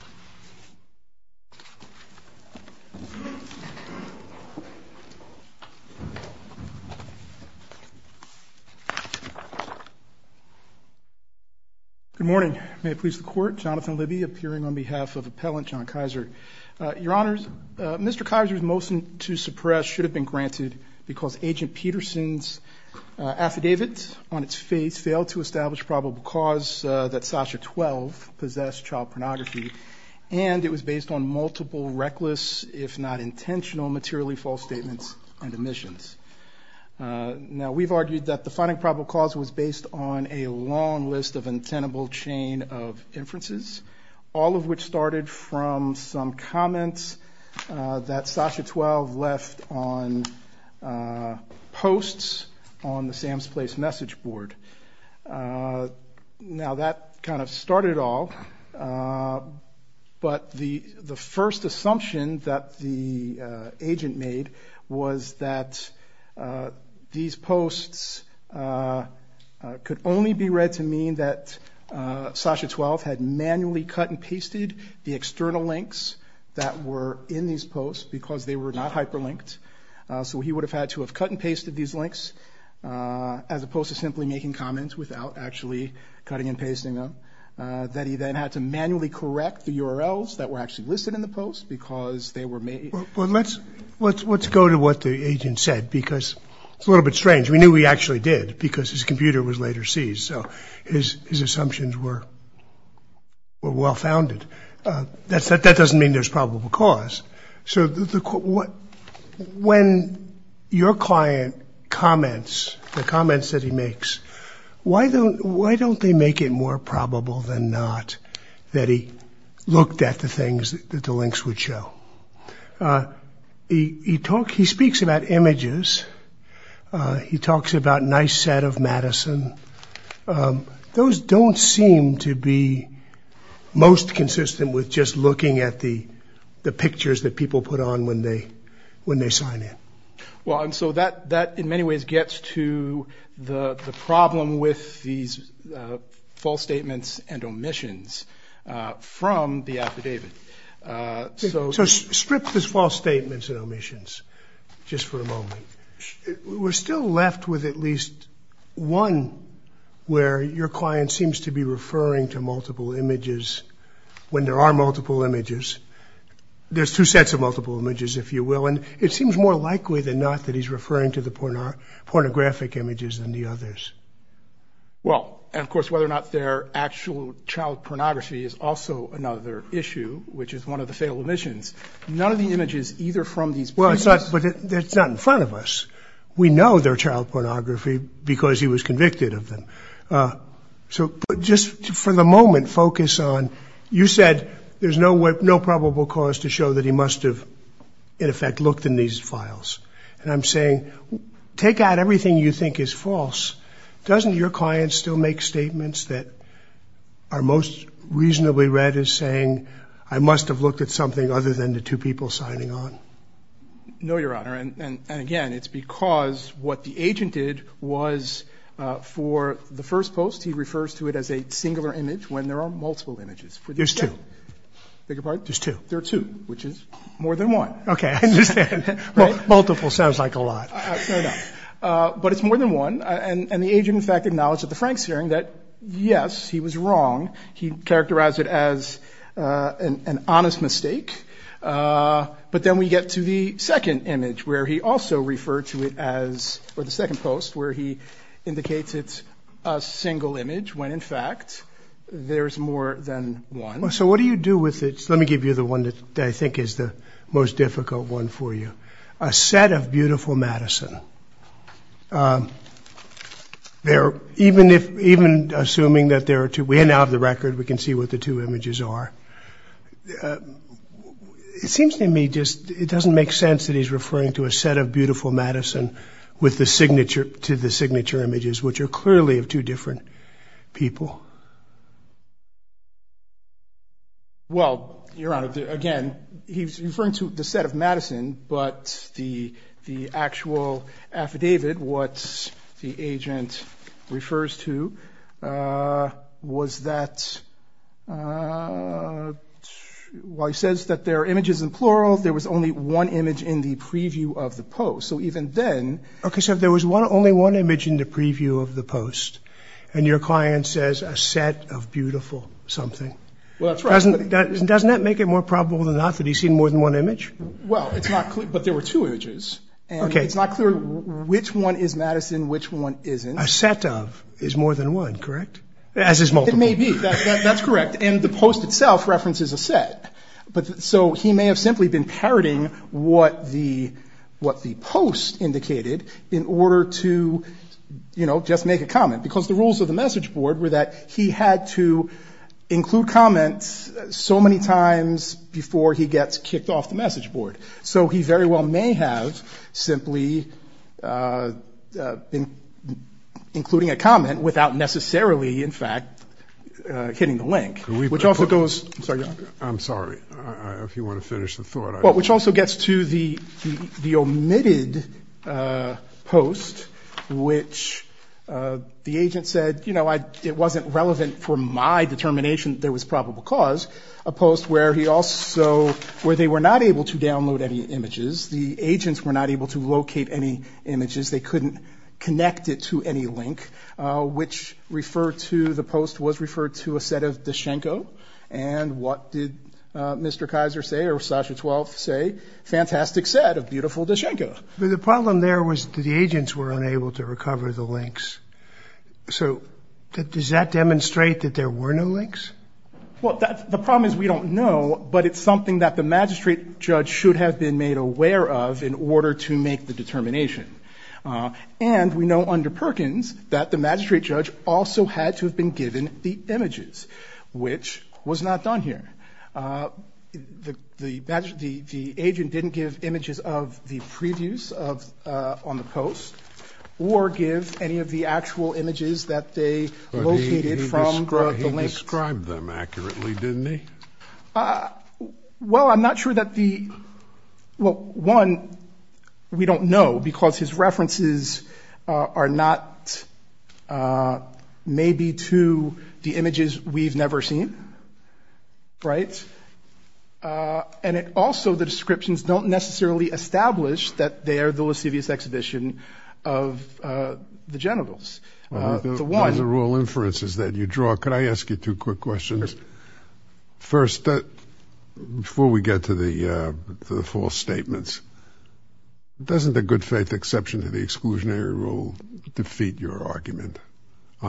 Good morning. May it please the Court, Jonathan Libby appearing on behalf of Appellant Jon Kaiser. Your Honors, Mr. Kaiser's motion to suppress should have been granted because Agent Peterson's affidavit on its face failed to establish probable cause that Sasha 12 possessed child pornography and it was based on multiple reckless if not intentional materially false statements and omissions. Now we've argued that the finding of probable cause was based on a long list of untenable chain of inferences, all of which started from some comments that Sasha 12 left on posts on the Sam's Place message board. Now that kind of started it all but the first assumption that the agent made was that these posts could only be read to mean that Sasha 12 had manually cut and pasted the external links that were in these posts because they were not hyperlinked. So he would have had to have cut and pasted these links as opposed to simply making comments without actually cutting and pasting them. That he then had to manually correct the URLs that were actually listed in the posts because they were made. Dr. Jonathan Libby Well let's go to what the agent said because it's a little bit strange. We knew he actually did because his computer was later seized so his assumptions were well founded. That doesn't mean there's probable cause. So when your client comments, the comments that he makes, why don't they make it more probable than not that he looked at the things that the links would show? He speaks about images. He talks about nice set of Madison. Those don't seem to be most consistent with just Dr. Jonathan Libby Well and so that in many ways gets to the problem with these false statements and omissions from the affidavit. Dr. Jonathan Libby So strip this false statements and omissions just for a moment. We're still left with at least one where your client seems to be referring to multiple images when there are multiple images. There's two sets of multiple images if you will and it seems more likely than not that he's referring to the pornographic images than the others. Dr. Jonathan Libby Well and of course whether or not their actual child pornography is also another issue which is one of the fatal omissions. None of the images either from these Dr. Jonathan Libby Well it's not but it's not in front of us. We know their child pornography because he was convicted of them. So just for the moment focus on you said there's no way no probable cause to show that he must have in effect looked in these files. And I'm saying take out everything you think is false. Doesn't your client still make statements that are most reasonably read as saying I must have looked at something other than the two people signing on. Dr. Jonathan Libby No Your Honor and again it's because what the agent did was for the first post he refers to it as a singular image when there are multiple Dr. Jonathan Libby There's two. Dr. Jonathan Libby There are two. Dr. Jonathan Libby There are two which is more than one. Dr. Jonathan Libby Okay I understand. Multiple sounds like a lot. Dr. Jonathan Libby Fair enough. But it's more than one and the agent in fact acknowledged at the Franks hearing that yes he was wrong. He characterized it as an honest mistake. But then we get to the second image where he also referred to it as or the second post where he indicates it's a single image when in fact there's more than one. Dr. Jonathan Libby So what do you do with it? Let me give you the one that I think is the most difficult one for you. A set of beautiful Madison. Even if even assuming that there are two we now have the record we can see what the two images are. It seems to me just it doesn't make sense that he's referring to a set of beautiful Madison with the signature to the signature images which are clearly of two different people. Dr. Jonathan Libby Well Your Honor again he's referring to the two was that why he says that there are images in plural. There was only one image in the preview of the post. So even then. Dr. Jonathan Libby Okay so there was one only one image in the preview of the post and your client says a set of beautiful something. Dr. Jonathan Libby Well that's right. Dr. Jonathan Libby Doesn't that make it more probable than not that he's seen more than one image. Dr. Jonathan Libby Well it's not clear. But there were two images. Dr. Jonathan Libby Okay. Dr. Jonathan Libby It's not clear which one is Madison which one isn't. Dr. Jonathan Libby A set of is more than one correct. As is multiple. Dr. Jonathan Libby It may be. That's correct. And the post itself references a set. But so he may have simply been parroting what the what the post indicated in order to you know just make a comment because the rules of the message board were that he had to include comments so many times before he gets kicked off the message board. So he very well may have simply been including a comment without necessarily in fact hitting the link. Dr. Jonathan Libby Which also goes I'm sorry. Dr. Jonathan Libby I'm sorry. If you want to finish the thought. Dr. Jonathan Libby Well which also gets to the omitted post which the agent said you know it wasn't relevant for my determination there was probable cause. A post where he also where they were not able to download any images. The agents were not able to locate any images. They couldn't connect it to any link which referred to the post was referred to a set of Dushenko. And what did Mr. Kaiser say or Sasha 12th say. Fantastic set of beautiful Dushenko. Dr. Jonathan Libby The problem there was the agents were unable to recover the links. So does that demonstrate that there were no links. Dr. Jonathan Libby Well the problem is we don't know. But it's something that the magistrate judge should have been made aware of in order to make the determination. And we know under Perkins that the magistrate judge also had to have been given the images which was not done here. The badge the agent didn't give images of the previews of on the post or give any of the actual images that they located from the links. Dr. Louis Knapp He described them accurately didn't he. Dr. Jonathan Libby Well I'm not sure that the well one we don't know because his references are not maybe to the images we've never seen. Right. And it also the descriptions don't necessarily establish that they are the lascivious exhibition of the genitals. Dr. Louis Knapp One of the rule inferences that you draw. Could I ask you two quick questions. First that before we get to the false statements doesn't the good faith exception to the exclusionary rule defeat your argument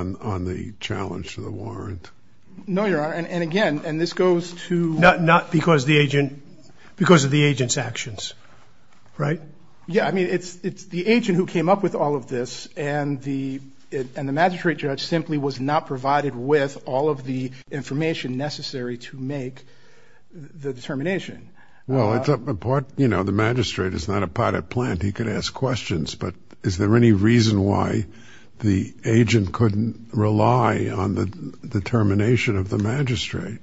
on the challenge to the warrant. Dr. Jonathan Libby No Your Honor. And again and this goes to Dr. Louis Knapp Not because the agent because of the agent's actions. Right. Dr. Jonathan Libby Yeah. I mean it's it's the agent who came up with all of this and the and the magistrate judge simply was not provided with all of the information necessary to make the determination. Dr. Louis Knapp Well it's a part you know the magistrate is not a pot of plant. He could ask questions. But is there any reason why the agent couldn't rely on the determination of the magistrate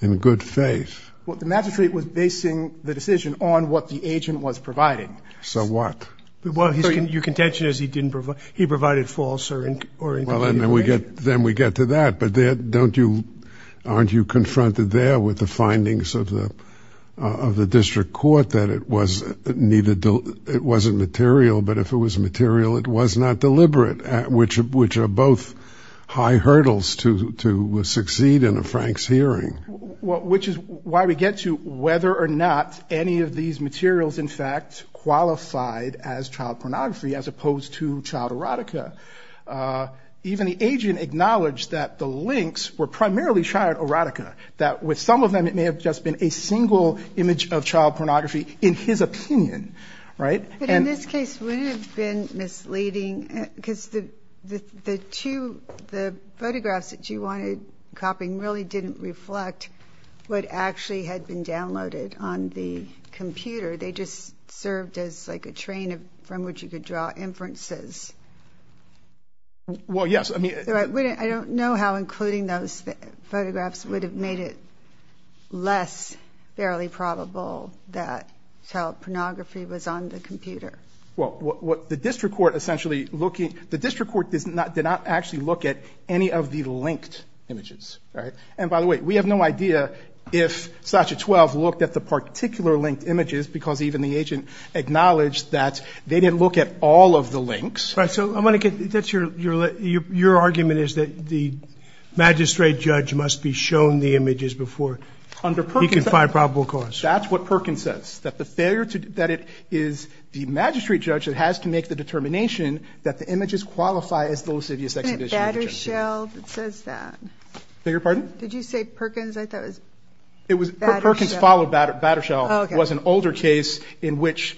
in good faith. Dr. Jonathan Libby Well the magistrate was basing the decision on what the agent was Dr. Louis Knapp So what? Dr. Jonathan Libby Well your contention is he didn't provide he provided false or incorrect information. Dr. Louis Knapp Well then we get then we get to that. But don't you aren't you confronted there with the findings of the of the district court that it was neither it wasn't material but if it was material it was not deliberate at which of which are both high hurdles to succeed in a Frank's hearing. Dr. Jonathan Libby Which is why we get to whether or not any of these materials in fact qualified as child pornography as opposed to child erotica. Even the agent acknowledged that the links were primarily child erotica that with some of them it may have just been But in this case wouldn't it have been misleading because the two the photographs that you wanted copying really didn't reflect what actually had been downloaded on the computer. They just served as like a train from which you could draw inferences. Dr. Louis Knapp Well yes I mean Dr. Libby I don't know how including those photographs would have made it less fairly probable that child pornography was on the computer. Dr. Jonathan Libby Well what the district court essentially looking the district court does not did not actually look at any of the linked images. And by the way we have no idea if Sasha 12 looked at the particular linked images because even the agent acknowledged that they didn't look at all of the links. Dr. Jonathan Libby Right so I'm going to get that's your your your argument is that the magistrate judge must be shown the images before under Perkins. Dr. Louis Knapp He can find probable cause. Dr. Jonathan Libby That's what Perkins says that the failure to that it is the magistrate judge that has to make the determination that the images qualify as those of the exhibition. Dr. Libby Isn't it Battershell that says that? Dr. Jonathan Libby Beg your pardon? Dr. Libby Did you say Perkins I thought it was Battershell. Dr. Jonathan Libby It was Perkins followed Battershell was an older case in which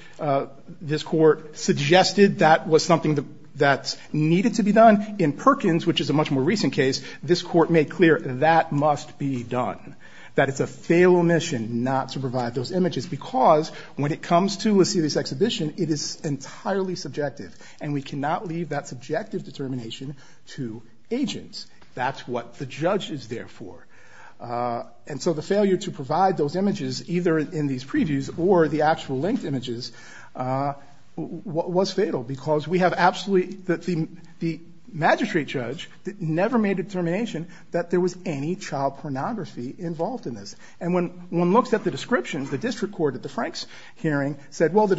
this court suggested that was something that needed to be done in Perkins which is a much more recent case this court made clear that must be done. That it's a failed mission not to provide those images because when it comes to a serious exhibition it is entirely subjective and we cannot leave that subjective determination to agents. That's what the judge is there for. And so the failure to provide those images either in these previews or the actual linked judge never made a determination that there was any child pornography involved in this. And when one looks at the descriptions the district court at the Franks hearing said well the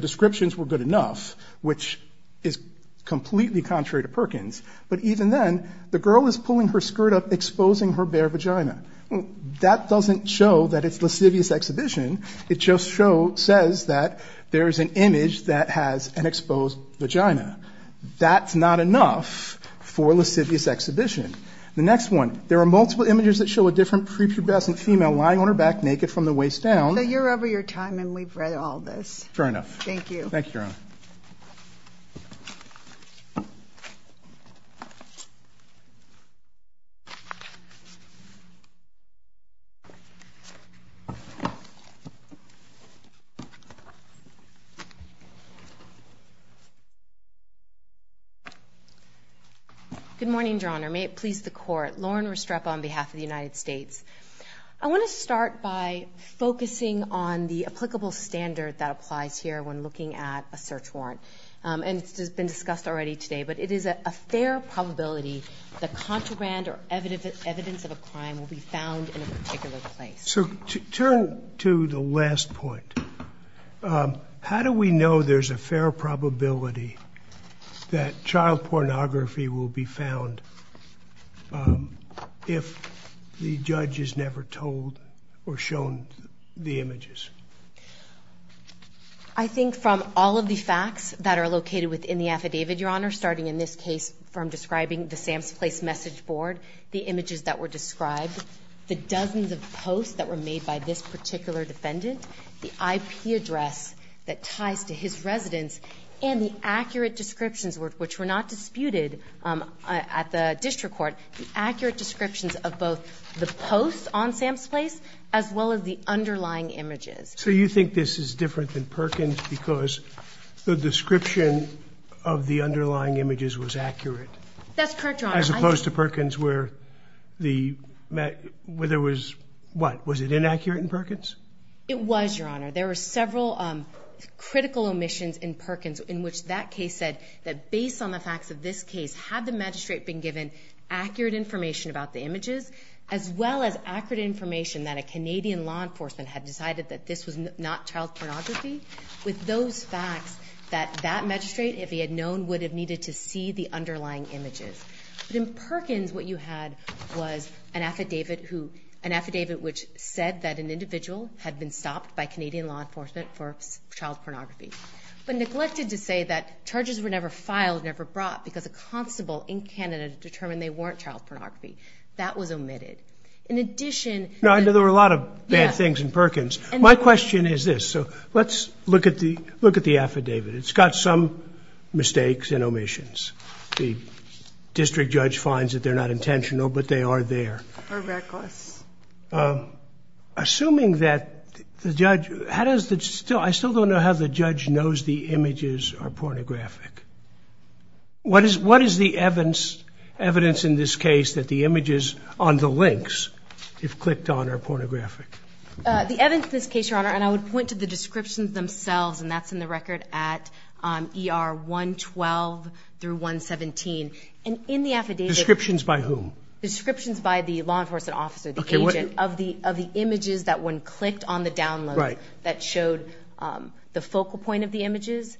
descriptions were good enough which is completely contrary to Perkins but even then the girl is pulling her skirt up exposing her bare vagina. That doesn't show that it's lascivious exhibition it just shows says that there is an image that has an exposed vagina. That's not enough for lascivious exhibition. The next one there are multiple images that show a different prepubescent female lying on her back naked from the waist down. So you're over your time and we've read all this. Fair enough. Thank you. Thank you Your Honor. Good morning Your Honor. May it please the court. Lauren Restrepo on behalf of the United States. I want to start by focusing on the applicable standard that applies here when looking at a search warrant. And it's been discussed already today but it is a fair probability the contraband or evidence of a crime will be found in a particular place. So to turn to the last point. How do we know there's a fair probability that child pornography will be found if the judge is never told or shown the images? I think from all of the facts that are located within the affidavit Your Honor starting in this case from describing the Sam's Place message board, the images that were described, the dozens of posts that were made by this particular defendant, the IP address that ties to his residence and the accurate descriptions which were not disputed at the district court. The accurate descriptions of both the posts on Sam's Place as well as the underlying images. So you think this is different than Perkins because the description of the underlying images was accurate? That's correct Your Honor. As opposed to Perkins where there was what? Was it inaccurate in Perkins? It was Your Honor. There were several critical omissions in Perkins in which that case said that based on the facts of this case had the magistrate been given accurate information about the images as well as accurate information that a Canadian law enforcement had decided that this was not child pornography with those facts that that magistrate if he had known he would have needed to see the underlying images. But in Perkins what you had was an affidavit which said that an individual had been stopped by Canadian law enforcement for child pornography but neglected to say that charges were never filed, never brought because a constable in Canada determined they weren't child pornography. That was omitted. In addition No, I know there were a lot of bad things in Perkins. My question is this. So let's look at the look at the affidavit. It's got some mistakes and omissions. The district judge finds that they're not intentional but they are there. Or reckless. Assuming that the judge how does that still I still don't know how the judge knows the images are pornographic. What is what is the evidence evidence in this case that the images on the links if clicked on are pornographic? The evidence in this case Your Honor and I would point to the descriptions themselves and that's in the record at ER 112 through 117 and in the affidavit. Descriptions by whom? Descriptions by the law enforcement officer, the agent of the of the images that when clicked on the download that showed the focal point of the images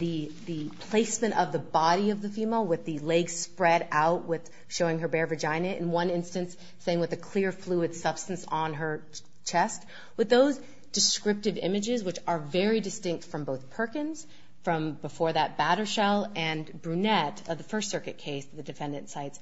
the placement of the body of the female with the legs spread out with showing her bare vagina in one instance saying with a clear fluid substance on her chest with those descriptive images which are very distinct from both Perkins from before that Battershall and Brunette of the First Circuit case the defendant sites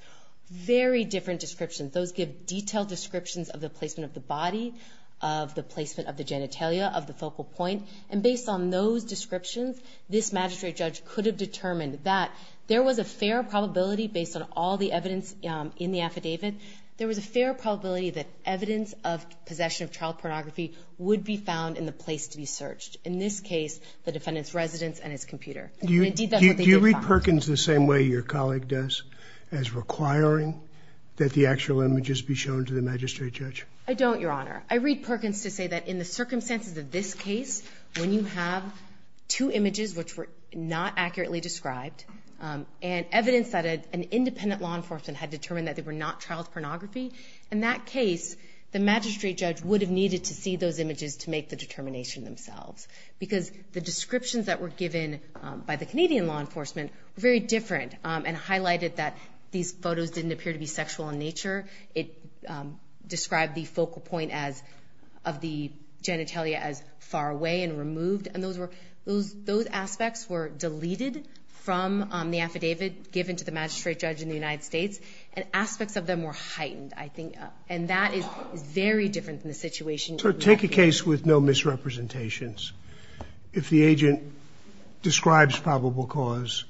very different descriptions. Those give detailed descriptions of the placement of the body of the placement of the genitalia of the focal point and based on those descriptions this magistrate judge could have determined that there was a fair probability based on all the evidence in the affidavit there was a fair probability that evidence of possession of child pornography would be found in the place to be searched in this case the defendant's residence and his computer. Do you read Perkins the same way your colleague does as requiring that the actual images be shown to the magistrate judge? I don't Your Honor. I read Perkins to say that in the circumstances of this case when you have two images which were not accurately described and evidence that an independent law enforcement had determined that they were not child pornography in that case the magistrate judge would have needed to see those images to make the determination themselves because the descriptions that were given by the Canadian law enforcement were very different and these photos didn't appear to be sexual in nature. It described the focal point as of the genitalia as far away and removed and those aspects were deleted from the affidavit given to the magistrate judge in the United States and aspects of them were heightened and that is very different from the situation. Take a case with no misrepresentations if the agent describes probable cause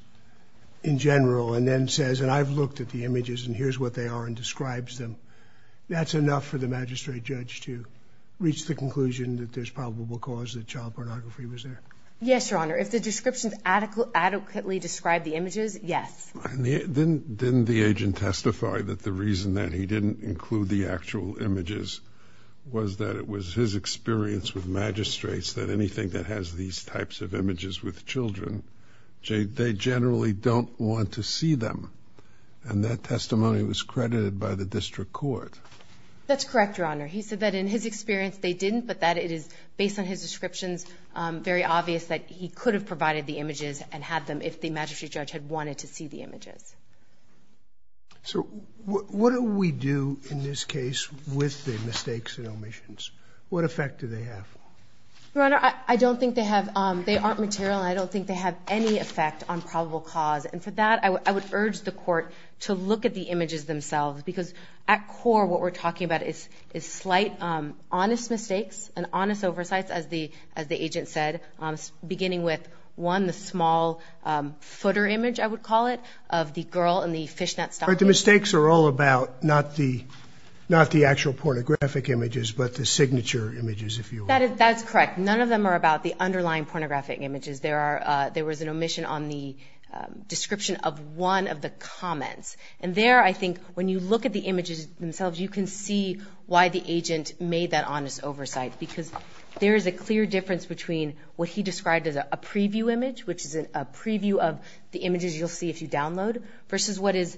in general and then says and I've looked at the images and here's what they are and describes them that's enough for the magistrate judge to reach the conclusion that there's probable cause that child pornography was there. Yes, Your Honor. If the descriptions adequately describe the images, yes. Didn't the agent testify that the reason that he didn't include the actual images was that it was his experience with magistrates that anything that has these types of images with children, they generally don't want to see them and that testimony was credited by the district court. That's correct, Your Honor. He said that in his experience they didn't but that it is based on his descriptions very obvious that he could have provided the images and had them if the magistrate judge had wanted to see the images. So what do we do in this case with the mistakes and omissions? What effect do they have? Your Honor, I don't think they have they aren't material and I don't think they have any effect on probable cause and for that I would urge the court to look at the images themselves because at core what we're talking about is slight honest mistakes and honest oversights as the agent said beginning with one, the small footer image I would call it of the girl in the fishnet stockings. The mistakes are all about not the actual pornographic images but the signature images if you will. That's correct. None of them are about the underlying pornographic images. There was an omission on the description of one of the comments and there I think when you look at the images themselves you can see why the agent made that honest oversight because there is a clear difference between what he described as a preview image which is a preview of the images you'll see if you download versus what is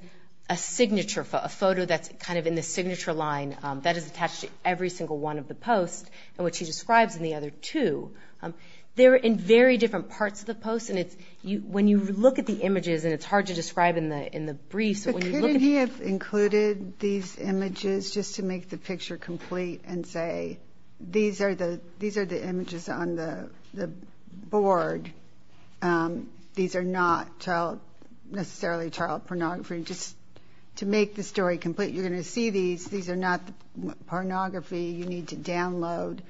a signature photo that's kind of in the signature line that is attached to every single one of the posts and what he describes in the other two. They're in very different parts of the post and when you look at the images and it's hard to describe in the briefs. But couldn't he have included these images just to make the picture complete and say these are the images on the board. These are not necessarily child pornography. Just to make the story complete you're going to see these. These are not child pornography. Just to make the story complete you're going to see these. These are not child pornography. Just to make the story complete you're going to see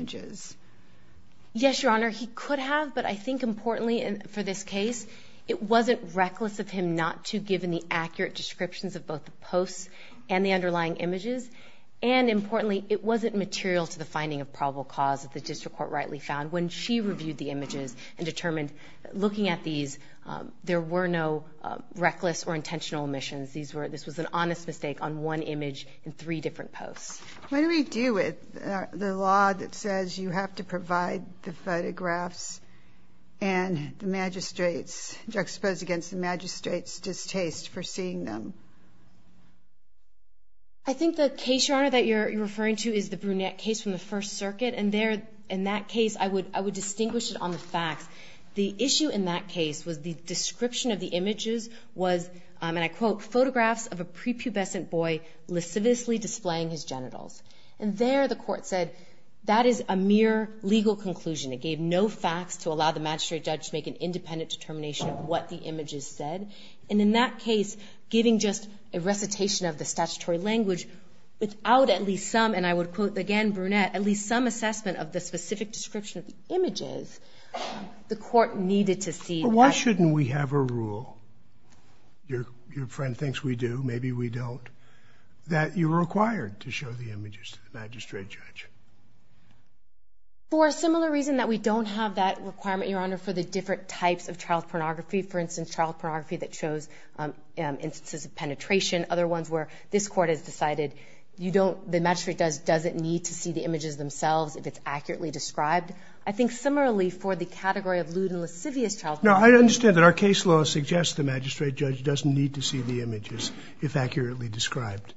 these. Yes Your Honor he could have but I think importantly for this case it wasn't reckless of him not to give in the accurate descriptions of both the posts and the underlying images and importantly it wasn't material to the finding of probable cause that the district court rightly found when she reviewed the images and determined looking at these there were no reckless or intentional omissions. This was an honest mistake on one image in three different posts. What do we do with the law that says you have to provide the photographs and the magistrates juxtaposed against the magistrates distaste for seeing them? I think the case Your Honor that you're referring to is the Brunette case from the First Amendment where the description of the images was and I quote photographs of a prepubescent boy displaying his genitals and there the court said that is a mere legal conclusion. It gave no facts to allow the magistrate judge to make an independent determination of what the images said and in that case giving just a recitation of the statutory language without at least some and I would quote again Brunette without at least some assessment of the specific description of the images the court needed to see. Why shouldn't we have a rule? Your friend thinks we do, maybe we don't that you're required to show the images to the magistrate judge? For a similar reason that we don't have that requirement Your Honor for the different types of child pornography for instance child pornography that shows instances of penetration other ones where this court has decided you don't the magistrate judge doesn't need to see the images themselves if it's accurately described. I think similarly for the category of lewd and lascivious child pornography No I understand that our case law suggests the magistrate judge doesn't need to see the images if accurately described.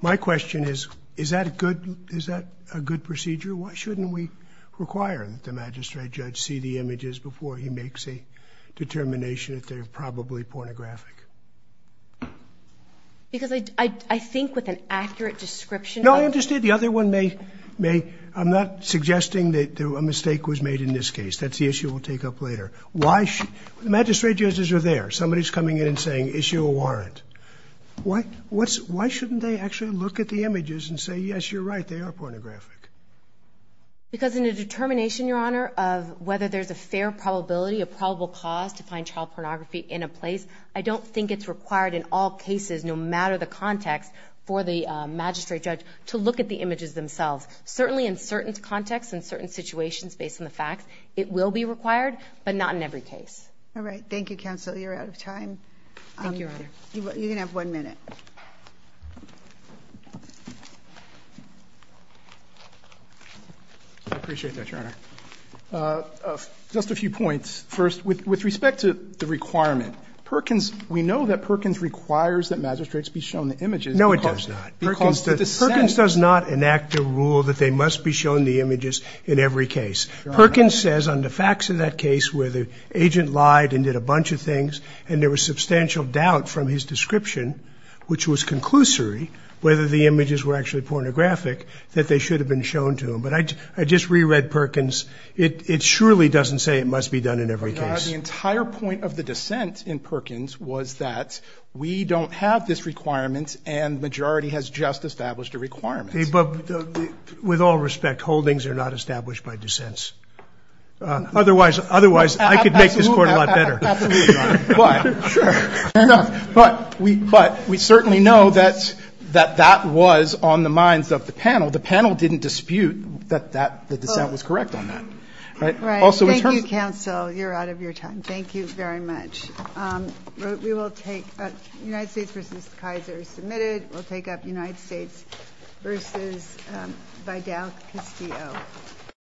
My question is that a good procedure? Why shouldn't we require that the magistrate judge see the images before he makes a determination that they're probably pornographic? Because I think with an accurate description No I understand the other one may I'm not suggesting that a mistake was made in this case. That's the issue we'll take up later. The magistrate judges are there. Somebody's coming in and saying issue a warrant. Why shouldn't they actually look at the images and say yes you're right they are pornographic? Because in a determination Your Honor of whether there's a fair probability a probable cause to find child pornography in a place I don't think it's required in all cases no matter the context for the magistrate judge to look at the images themselves. Certainly in certain contexts and certain situations based on the facts it will be required but not in every case. Alright thank you counsel you're out of time. You can have one minute. I appreciate that Your Honor. Just a few points. First with respect to the requirement Perkins we know that Perkins requires that magistrates be shown the images. No it does not. Perkins does not enact a rule that they must be shown the images in every case. Perkins says on the facts of that case where the agent lied and did a bunch of things and there was substantial doubt from his description which was conclusory whether the images were actually pornographic that they should have been shown to him. But I just reread Perkins it surely doesn't say it must be done in every case. Your Honor the entire point of the dissent in Perkins was that we don't have this requirement and the majority has just established a requirement. With all respect holdings are not established by dissents. Otherwise I could make this court a lot better. But we certainly know that that was on the minds of the panel. The panel didn't dispute that the dissent was correct on that. Thank you counsel you're out of your time. Thank you very much. United States v. Kaiser is submitted. We'll take up United States v. Vidal Castillo.